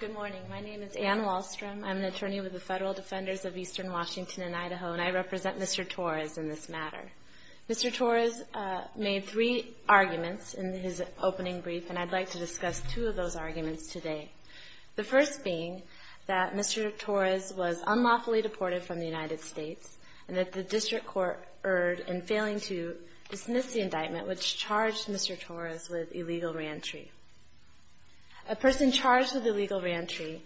Good morning. My name is Anne Wallstrom. I'm the attorney with the Federal Defenders of Eastern Washington and Idaho, and I represent Mr. Torres in this matter. Mr. Torres made three arguments in his opening brief, and I'd like to discuss two of those arguments today. The first being that Mr. Torres was unlawfully deported from the United States and that the district court erred in failing to dismiss the indictment, which charged Mr. Torres with illegal reentry. A person charged with illegal reentry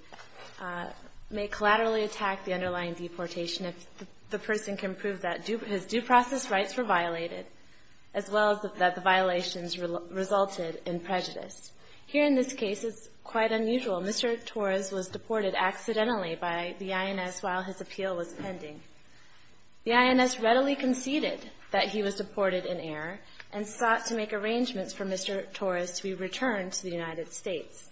may collaterally attack the underlying deportation if the person can prove that his due process rights were violated, as well as that the violations resulted in prejudice. Here in this case, it's quite unusual. Mr. Torres was deported accidentally by the INS while his appeal was pending. The INS readily conceded that he was deported in error and sought to make arrangements for Mr. Torres to be returned to the United States.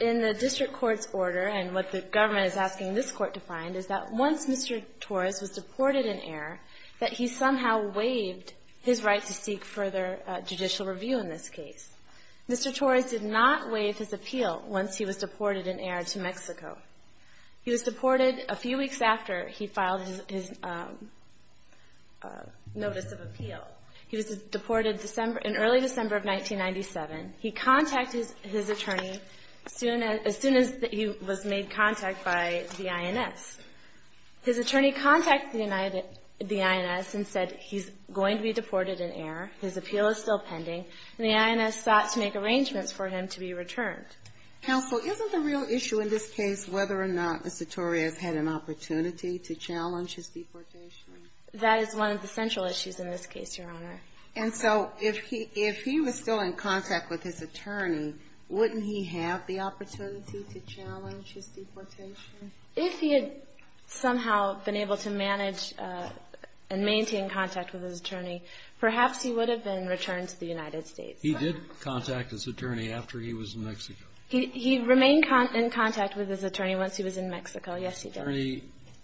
In the district court's order, and what the government is asking this court to find, is that once Mr. Torres was deported in error, that he somehow waived his right to seek further judicial review in this case. Mr. Torres did not waive his appeal once he was deported in error to Mexico. He was deported a few weeks after he filed his notice of appeal. He was deported in early December of 1997. He contacted his attorney as soon as he was made contact by the INS. His attorney contacted the INS and said he's going to be deported in error, his appeal is still pending, and the INS sought to make arrangements for him to be returned. Counsel, isn't the real issue in this case whether or not Mr. Torres had an opportunity to challenge his deportation? That is one of the central issues in this case, Your Honor. And so if he was still in contact with his attorney, wouldn't he have the opportunity to challenge his deportation? If he had somehow been able to manage and maintain contact with his attorney, perhaps he would have been returned to the United States. He did contact his attorney after he was in Mexico. He remained in contact with his attorney once he was in Mexico. Yes, he did.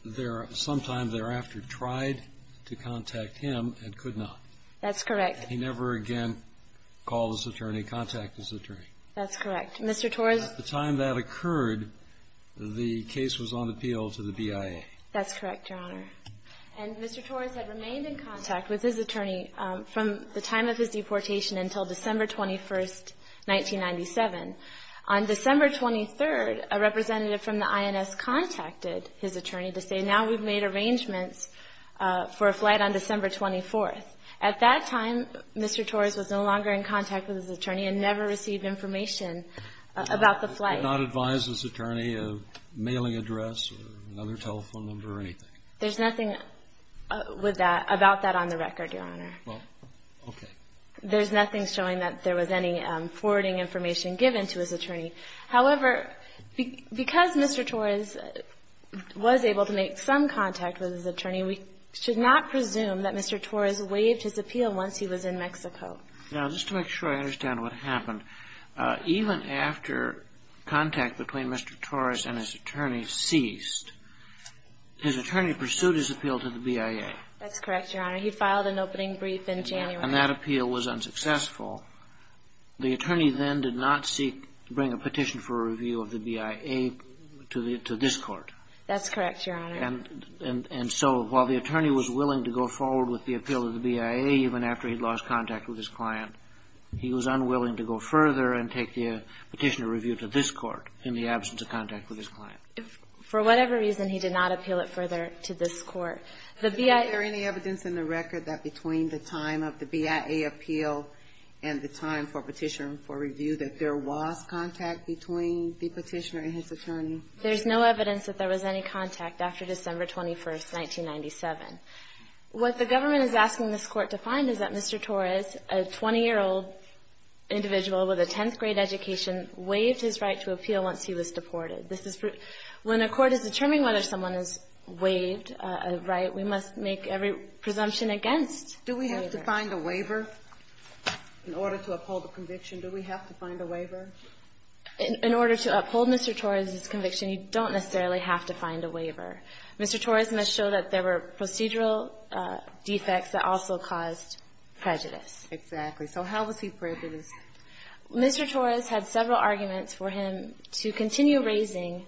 His attorney sometime thereafter tried to contact him and could not. That's correct. He never again called his attorney, contacted his attorney. That's correct. Mr. Torres — At the time that occurred, the case was on appeal to the BIA. That's correct, Your Honor. And Mr. Torres had remained in contact with his attorney from the time of his deportation until December 21, 1997. On December 23, a representative from the INS contacted his attorney to say, now we've made arrangements for a flight on December 24. At that time, Mr. Torres was no longer in contact with his attorney and never received information about the flight. Did he not advise his attorney of a mailing address or another telephone number or anything? There's nothing about that on the record, Your Honor. Well, okay. There's nothing showing that there was any forwarding information given to his attorney. However, because Mr. Torres was able to make some contact with his attorney, we should not presume that Mr. Torres waived his appeal once he was in Mexico. Now, just to make sure I understand what happened, even after contact between Mr. Torres and his attorney ceased, his attorney pursued his appeal to the BIA. That's correct, Your Honor. He filed an opening brief in January. And that appeal was unsuccessful. The attorney then did not seek to bring a petition for a review of the BIA to this Court. That's correct, Your Honor. And so while the attorney was willing to go forward with the appeal to the BIA even after he'd lost contact with his client, he was unwilling to go further and take the petitioner review to this Court in the absence of contact with his client. For whatever reason, he did not appeal it further to this Court. Is there any evidence in the record that between the time of the BIA appeal and the time for petitioner review that there was contact between the petitioner and his attorney? There's no evidence that there was any contact after December 21st, 1997. What the government is asking this Court to find is that Mr. Torres, a 20-year-old individual with a 10th-grade education, waived his right to appeal once he was deported. When a court is determining whether someone has waived a right, we must make every presumption against a waiver. Do we have to find a waiver in order to uphold a conviction? Do we have to find a waiver? In order to uphold Mr. Torres' conviction, you don't necessarily have to find a waiver. Mr. Torres must show that there were procedural defects that also caused prejudice. Exactly. So how was he prejudiced? Mr. Torres had several arguments for him to continue raising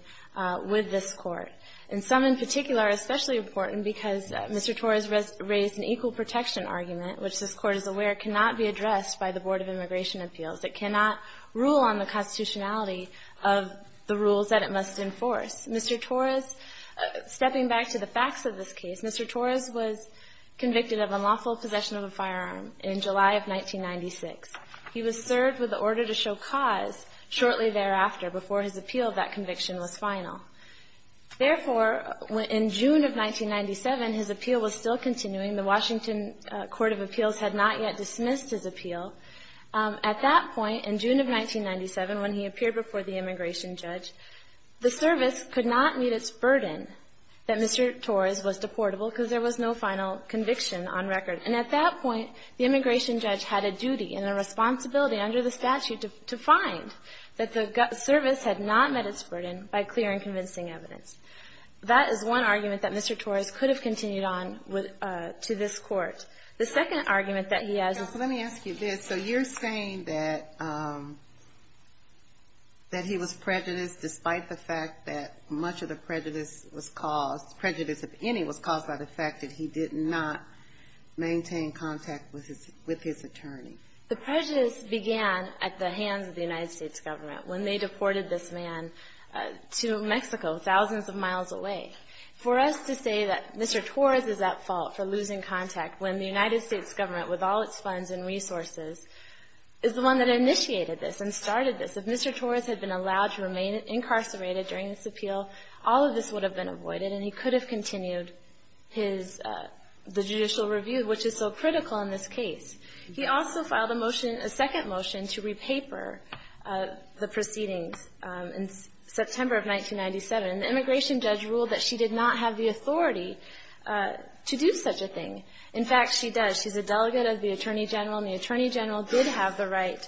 with this Court, and some in particular are especially important because Mr. Torres raised an equal protection argument, which this Court is aware cannot be addressed by the Board of Immigration on the constitutionality of the rules that it must enforce. Mr. Torres, stepping back to the facts of this case, Mr. Torres was convicted of unlawful possession of a firearm in July of 1996. He was served with the order to show cause shortly thereafter, before his appeal of that conviction was final. Therefore, in June of 1997, his appeal was still continuing. The Washington Court of Appeals had not yet dismissed his appeal. At that point, in June of 1997, when he appeared before the immigration judge, the service could not meet its burden that Mr. Torres was deportable because there was no final conviction on record. And at that point, the immigration judge had a duty and a responsibility under the statute to find that the service had not met its burden by clear and convincing evidence. That is one argument that Mr. Torres could have continued on with to this day. So you're saying that he was prejudiced despite the fact that much of the prejudice was caused, prejudice of any was caused by the fact that he did not maintain contact with his attorney. The prejudice began at the hands of the United States government when they deported this man to Mexico, thousands of miles away. For us to say that Mr. Torres is at fault for losing contact when the United States government, with all its funds and resources, is the one that initiated this and started this. If Mr. Torres had been allowed to remain incarcerated during this appeal, all of this would have been avoided and he could have continued his, the judicial review, which is so critical in this case. He also filed a motion, a second motion, to re-paper the proceedings in September of 1997. The immigration judge ruled that she did not have the authority to do such a thing. In fact, she does. She's a delegate of the attorney general, and the attorney general did have the right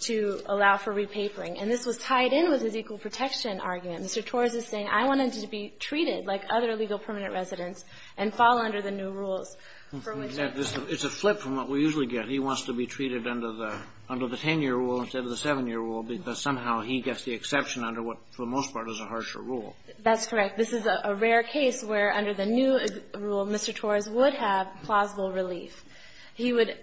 to allow for re-papering. And this was tied in with his equal protection argument. Mr. Torres is saying, I wanted to be treated like other legal permanent residents and fall under the new rules. Kennedy, it's a flip from what we usually get. He wants to be treated under the 10-year rule instead of the 7-year rule because somehow he gets the exception under what, for the most part, is a harsher rule. That's correct. This is a rare case where, under the new rule, Mr. Torres would have plausible relief. He would,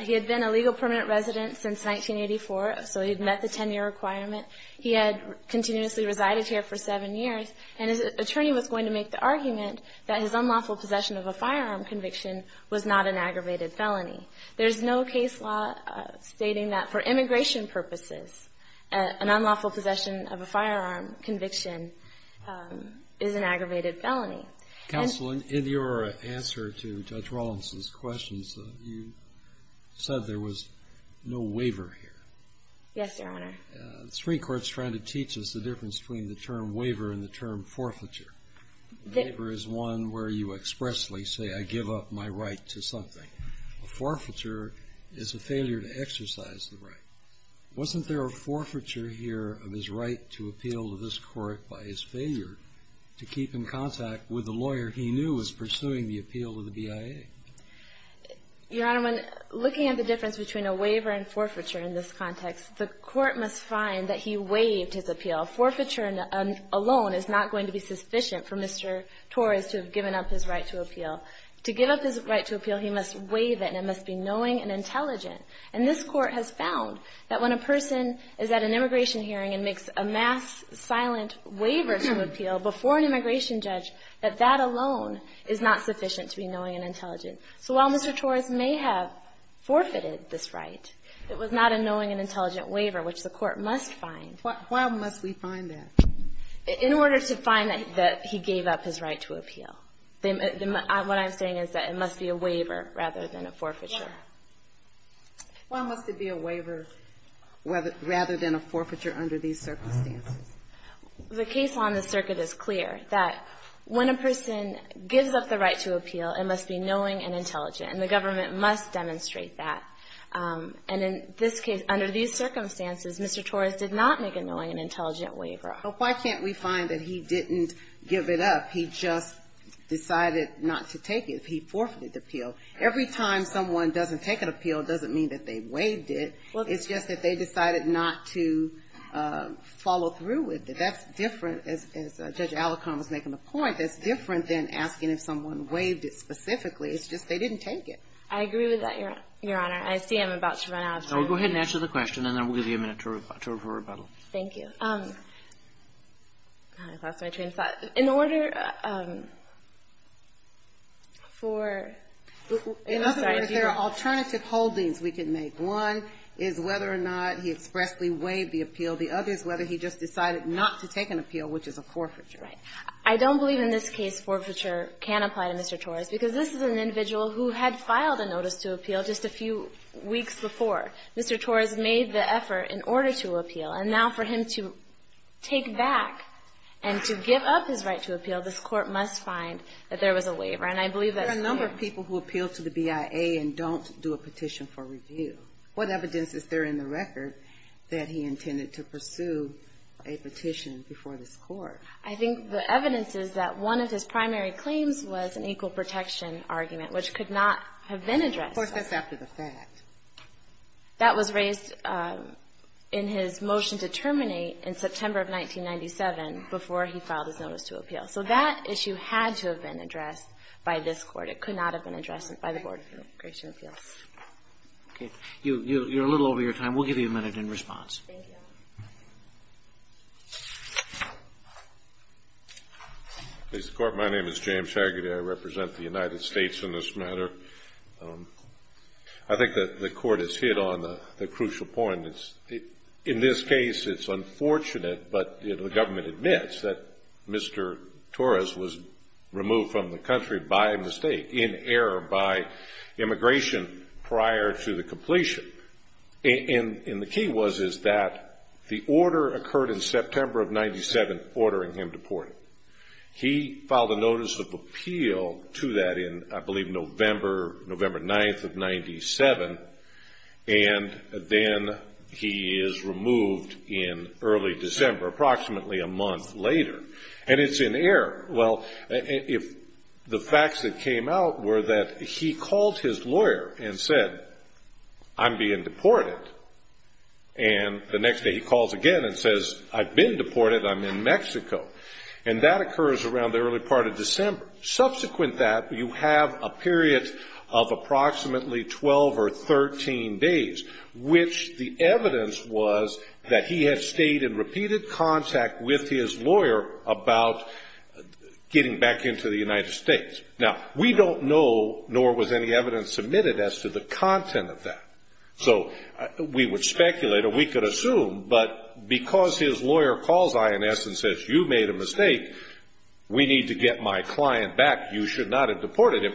he had been a legal permanent resident since 1984, so he had met the 10-year requirement. He had continuously resided here for seven years, and his attorney was going to make the argument that his unlawful possession of a firearm conviction was not an aggravated felony. There's no case law stating that for immigration purposes, an unlawful possession of a firearm conviction is an aggravated felony. Counsel, in your answer to Judge Rawlinson's questions, you said there was no waiver here. Yes, Your Honor. The Supreme Court's trying to teach us the difference between the term waiver and the term forfeiture. The waiver is one where you expressly say, I give up my right to something. A forfeiture is a failure to exercise the right. Wasn't there a forfeiture here of his right to appeal to this Court by his failure to keep in contact with the lawyer he knew was pursuing the appeal to the BIA? Your Honor, when looking at the difference between a waiver and forfeiture in this context, the Court must find that he waived his appeal. Forfeiture alone is not going to be sufficient for Mr. Torres to have given up his right to appeal. To give up his right to appeal, he must waive it, and it must be knowing and intelligent. And this Court has found that when a person is at an immigration hearing and makes a mass silent waiver to appeal before an immigration judge, that that alone is not sufficient to be knowing and intelligent. So while Mr. Torres may have forfeited this right, it was not a knowing and intelligent waiver, which the Court must find. Why must we find that? In order to find that he gave up his right to appeal. What I'm saying is that it must be a waiver rather than a forfeiture. Why must it be a waiver rather than a forfeiture under these circumstances? The case on the circuit is clear, that when a person gives up the right to appeal, it must be knowing and intelligent. And the government must demonstrate that. And in this case, under these circumstances, Mr. Torres did not make a knowing and intelligent waiver. So why can't we find that he didn't give it up? He just decided not to take it. He forfeited the appeal. Every time someone doesn't take an appeal, it doesn't mean that they waived it. It's just that they decided not to follow through with it. That's different, as Judge Alicorn was making the point, that's different than asking if someone waived it specifically. It's just they didn't take it. I agree with that, Your Honor. I see I'm about to run out of time. Go ahead and answer the question, and then we'll give you a minute to rebuttal. Thank you. I lost my train of thought. In order for ---- It doesn't matter if there are alternative holdings we can make. One is whether or not he expressly waived the appeal. The other is whether he just decided not to take an appeal, which is a forfeiture. Right. I don't believe in this case forfeiture can apply to Mr. Torres because this is an individual who had filed a notice to appeal just a few weeks before. Mr. Torres made the effort in order to appeal. And now for him to take back and to give up his right to appeal, this Court must find that there was a waiver. And I believe that's fair. There are a number of people who appeal to the BIA and don't do a petition for review. What evidence is there in the record that he intended to pursue a petition before this Court? I think the evidence is that one of his primary claims was an equal protection argument, which could not have been addressed. Of course, that's after the fact. That was raised in his motion to terminate in September of 1997 before he filed his notice to appeal. So that issue had to have been addressed by this Court. It could not have been addressed by the Board of Immigration Appeals. Okay. You're a little over your time. We'll give you a minute in response. Thank you. Mr. Court, my name is James Haggerty. I represent the United States in this matter. I think that the Court has hit on the crucial point. In this case, it's unfortunate, but the government admits that Mr. Torres was removed from the country by mistake, in error, by immigration prior to the completion. And the key was that the order occurred in September of 1997 ordering him deported. He filed a notice of appeal to that in, I believe, November, November 9th of 1997, and then he is removed in early December, approximately a month later. And it's in error. Well, if the facts that came out were that he called his lawyer and said, I'm being deported, and the next day he calls again and says, I've been deported. I'm in Mexico. And that occurs around the early part of December. Subsequent to that, you have a period of approximately 12 or 13 days, which the evidence was that he had stayed in repeated contact with his lawyer about getting back into the United States. Now, we don't know, nor was any evidence submitted as to the content of that. So we would speculate, or we could assume, but because his lawyer calls INS and says, you made a mistake, we need to get my client back. You should not have deported him.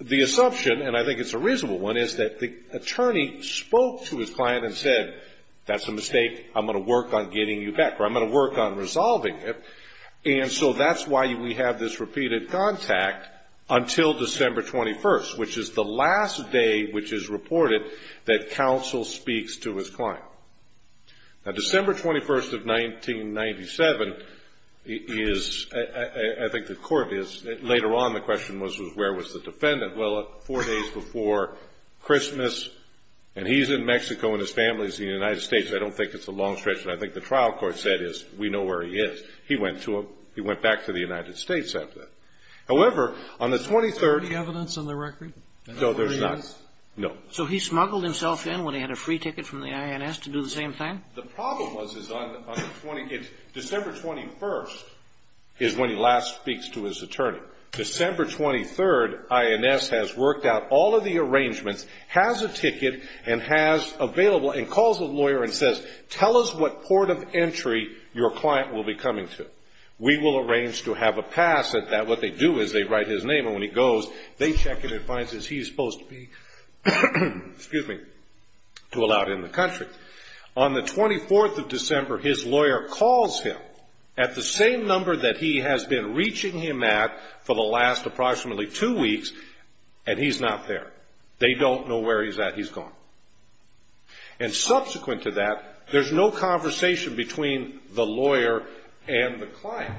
The assumption, and I think it's a reasonable one, is that the attorney spoke to his client and said, that's a mistake, I'm going to work on getting you back, or I'm going to work on resolving it. And so that's why we have this repeated contact until December 21st, which is the last day which is reported that counsel speaks to his client. Now, December 21st of 1997 is, I think the court is, later on the question was, where was the defendant? Well, four days before Christmas, and he's in Mexico and his family is in the United States. I don't think it's a long stretch, but I think the trial court said is, we know where he is. He went back to the United States after that. However, on the 23rd. Is there any evidence on the record? No, there's not. No. So he smuggled himself in when he had a free ticket from the INS to do the same thing? The problem was, is on the 20th, December 21st is when he last speaks to his attorney. December 23rd, INS has worked out all of the arrangements, has a ticket, and has available, and calls the lawyer and says, tell us what port of entry your client will be coming to. We will arrange to have a pass at that. What they do is they write his name, and when he goes, they check it and find that he's supposed to be, excuse me, to allow it in the country. On the 24th of December, his lawyer calls him at the same number that he has been reaching him at for the last approximately two weeks, and he's not there. They don't know where he's at. He's gone. And subsequent to that, there's no conversation between the lawyer and the client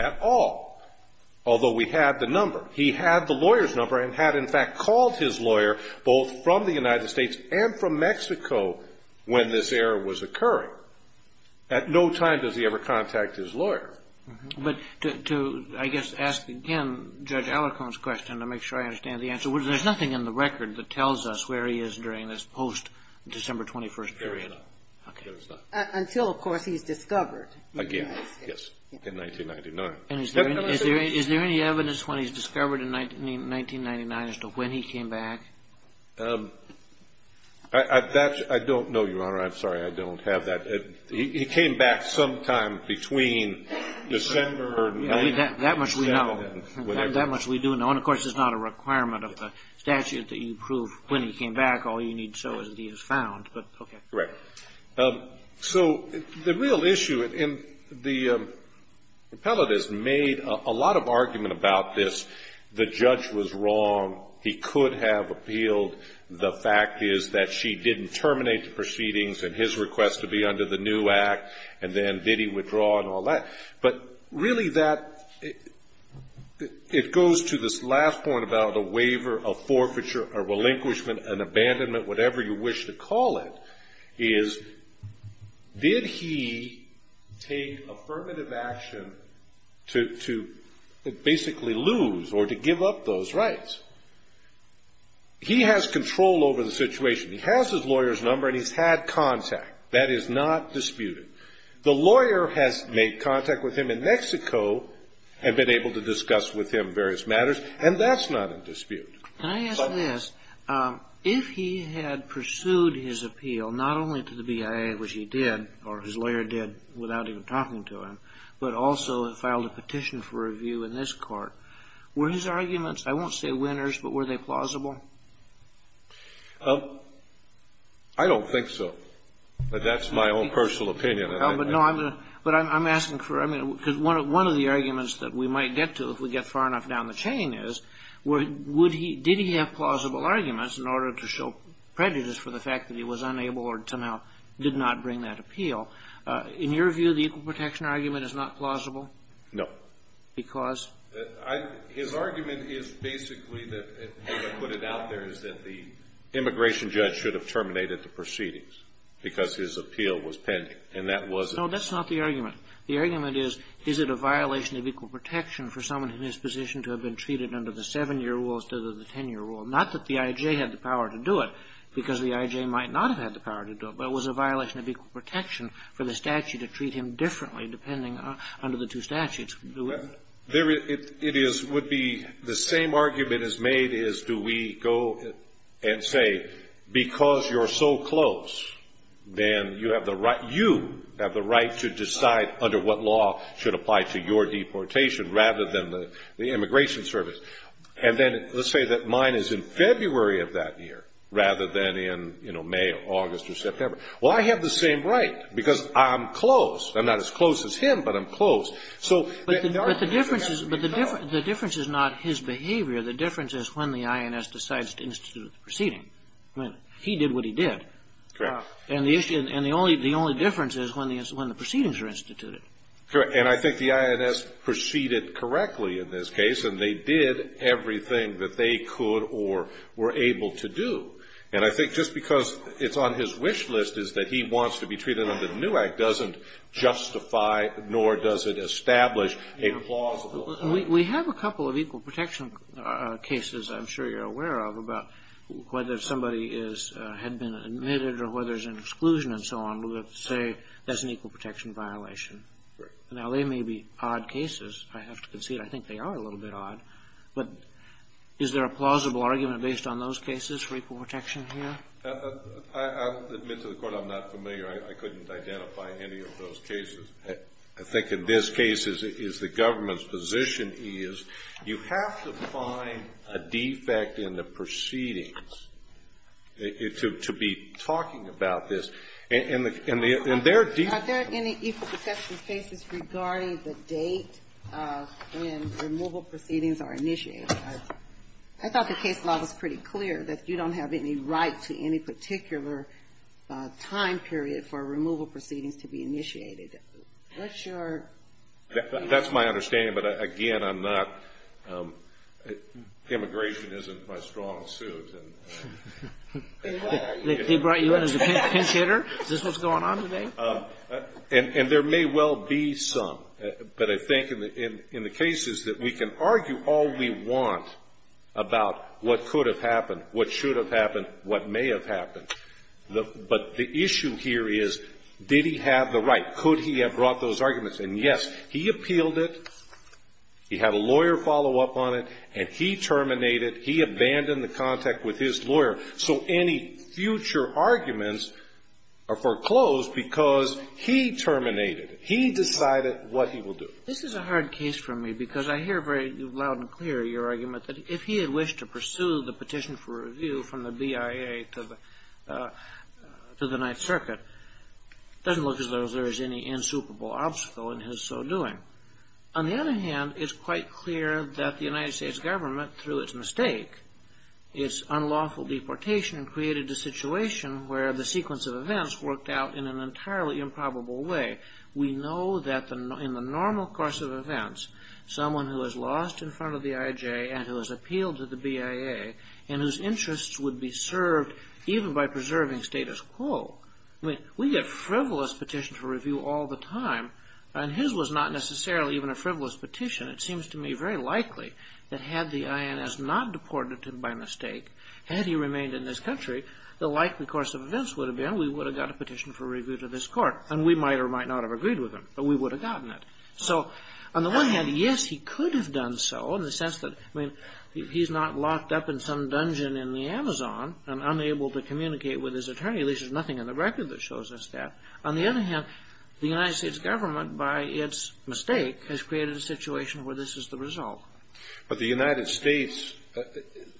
at all, although we had the number. He had the lawyer's number and had, in fact, called his lawyer both from the United States and from Mexico when this error was occurring. At no time does he ever contact his lawyer. But to, I guess, ask again Judge Alicorn's question to make sure I understand the answer, there's nothing in the record that tells us where he is during this post-December 21st period. There is not. Until, of course, he's discovered. Again, yes, in 1999. Is there any evidence when he's discovered in 1999 as to when he came back? I don't know, Your Honor. I'm sorry, I don't have that. He came back sometime between December 1997. That much we know. That much we do know. And, of course, it's not a requirement of the statute that you prove when he came back. All you need to show is that he was found. But, okay. Right. So the real issue, and the appellate has made a lot of argument about this. The judge was wrong. He could have appealed. The fact is that she didn't terminate the proceedings and his request to be under the new act, and then did he withdraw and all that. But really that, it goes to this last point about a waiver, a forfeiture, a relinquishment, an abandonment, whatever you wish to call it, is did he take affirmative action to basically lose or to give up those rights? He has control over the situation. He has his lawyer's number and he's had contact. That is not disputed. The lawyer has made contact with him in Mexico and been able to discuss with him various matters, and that's not in dispute. Can I ask this? If he had pursued his appeal not only to the BIA, which he did, or his lawyer did without even talking to him, but also filed a petition for review in this Court, were his arguments, I won't say winners, but were they plausible? I don't think so. But that's my own personal opinion. No, but I'm asking for, I mean, because one of the arguments that we might get to if we get far enough down the chain is did he have plausible arguments in order to show prejudice for the fact that he was unable or somehow did not bring that appeal? In your view, the equal protection argument is not plausible? No. Because? His argument is basically that, as I put it out there, is that the immigration judge should have terminated the proceedings because his appeal was pending, and that wasn't. No, that's not the argument. The argument is, is it a violation of equal protection for someone in his position to have been treated under the 7-year rule instead of the 10-year rule? Not that the I.J. had the power to do it, because the I.J. might not have had the power to do it, but it was a violation of equal protection for the statute to treat him differently depending on the two statutes. It would be the same argument as made is do we go and say, because you're so close, then you have the right to decide under what law should apply to your deportation rather than the Immigration Service. And then let's say that mine is in February of that year rather than in May or August or September. Well, I have the same right because I'm close. I'm not as close as him, but I'm close. But the difference is not his behavior. The difference is when the INS decides to institute the proceeding. He did what he did. Correct. And the only difference is when the proceedings are instituted. Correct. And I think the INS proceeded correctly in this case, and they did everything that they could or were able to do. And I think just because it's on his wish list is that he wants to be treated under the new act doesn't justify it, nor does it establish a plausible argument. We have a couple of equal protection cases I'm sure you're aware of about whether somebody had been admitted or whether there's an exclusion and so on. We would have to say that's an equal protection violation. Now, they may be odd cases. I have to concede I think they are a little bit odd. But is there a plausible argument based on those cases for equal protection here? I'll admit to the Court I'm not familiar. I couldn't identify any of those cases. I think in this case, as the government's position is, you have to find a defect in the proceedings to be talking about this. And there are defects. Are there any equal protection cases regarding the date when removal proceedings are initiated? I thought the case law was pretty clear that you don't have any right to any particular time period for removal proceedings to be initiated. What's your ---- That's my understanding. But again, I'm not ---- Immigration isn't my strong suit. They brought you in as a pinch hitter? Is this what's going on today? And there may well be some. But I think in the cases that we can argue all we want about what could have happened, what should have happened, what may have happened. But the issue here is, did he have the right? Could he have brought those arguments? And, yes, he appealed it. He had a lawyer follow up on it. And he terminated. He abandoned the contact with his lawyer. So any future arguments are foreclosed because he terminated it. He decided what he will do. This is a hard case for me because I hear very loud and clear your argument that if he had wished to pursue the petition for review from the BIA to the Ninth Circuit, it doesn't look as though there is any insuperable obstacle in his so doing. On the other hand, it's quite clear that the United States government, through its mistake, its unlawful deportation, created a situation where the sequence of events worked out in an entirely improbable way. We know that in the normal course of events, someone who is lost in front of the IJ and who has appealed to the BIA and whose interests would be served even by preserving status quo, we get frivolous petitions for review all the time. And his was not necessarily even a frivolous petition. It seems to me very likely that had the INS not deported him by mistake, had he remained in this country, the likely course of events would have been we would have got a petition for review to this court. And we might or might not have agreed with him, but we would have gotten it. So on the one hand, yes, he could have done so in the sense that, I mean, he's not locked up in some dungeon in the Amazon and unable to communicate with his attorney. At least there's nothing in the record that shows us that. On the other hand, the United States government, by its mistake, has created a situation where this is the result. But the United States,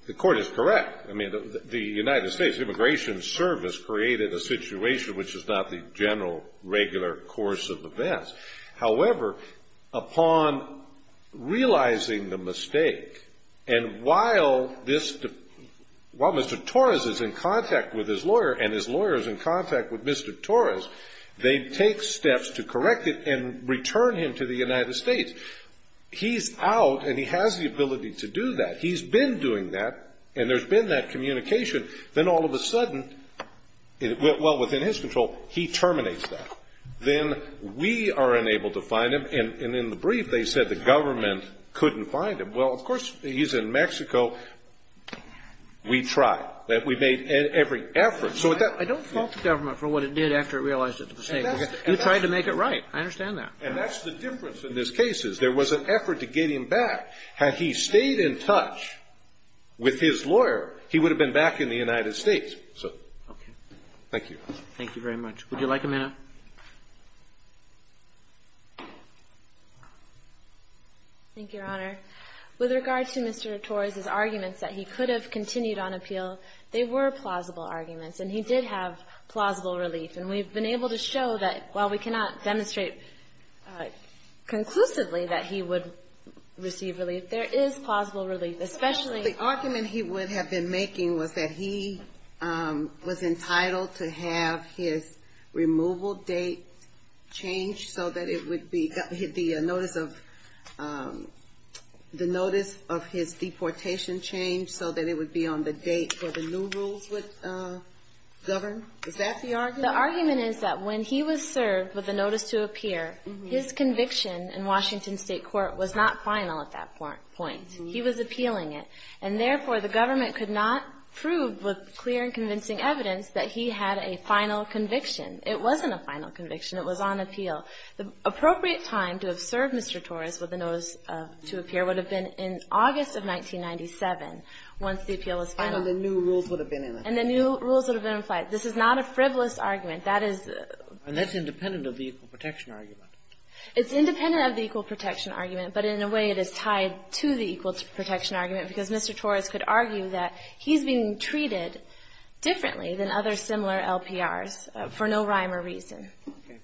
the court is correct. I mean, the United States Immigration Service created a situation which is not the general, regular course of events. However, upon realizing the mistake, and while Mr. Torres is in contact with his lawyer and his lawyer is in contact with Mr. Torres, they take steps to correct it and return him to the United States. He's out and he has the ability to do that. He's been doing that, and there's been that communication. Then all of a sudden, well, within his control, he terminates that. Then we are unable to find him. And in the brief, they said the government couldn't find him. Well, of course, he's in Mexico. We tried. So at that point you have to correct it. Kennedy. I don't fault the government for what it did after it realized it was a mistake. You tried to make it right. I understand that. And that's the difference in this case is there was an effort to get him back. Had he stayed in touch with his lawyer, he would have been back in the United States. So thank you. Thank you very much. Would you like a minute? Thank you, Your Honor. With regard to Mr. Torres' arguments that he could have continued on appeal, they were plausible arguments, and he did have plausible relief. And we've been able to show that while we cannot demonstrate conclusively that he would receive relief, there is plausible relief. The argument he would have been making was that he was entitled to have his removal date changed so that it would be the notice of his deportation changed so that it would be on the date where the new rules would govern. Is that the argument? The argument is that when he was served with the notice to appear, his conviction in Washington State court was not final at that point. He was appealing it. And therefore, the government could not prove with clear and convincing evidence that he had a final conviction. It wasn't a final conviction. It was on appeal. The appropriate time to have served Mr. Torres with the notice to appear would have been in August of 1997 once the appeal was final. And the new rules would have been in effect. And the new rules would have been in effect. This is not a frivolous argument. That is a And that's independent of the equal protection argument. It's independent of the equal protection argument. But in a way, it is tied to the equal protection argument because Mr. Torres could argue that he's being treated differently than other similar LPRs for no rhyme or reason.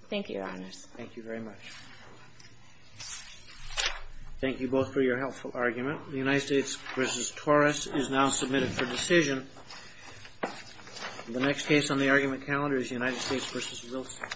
Thank you, Your Honors. Thank you very much. Thank you both for your helpful argument. The United States v. Torres is now submitted for decision. The next case on the argument calendar is United States v. Wilson.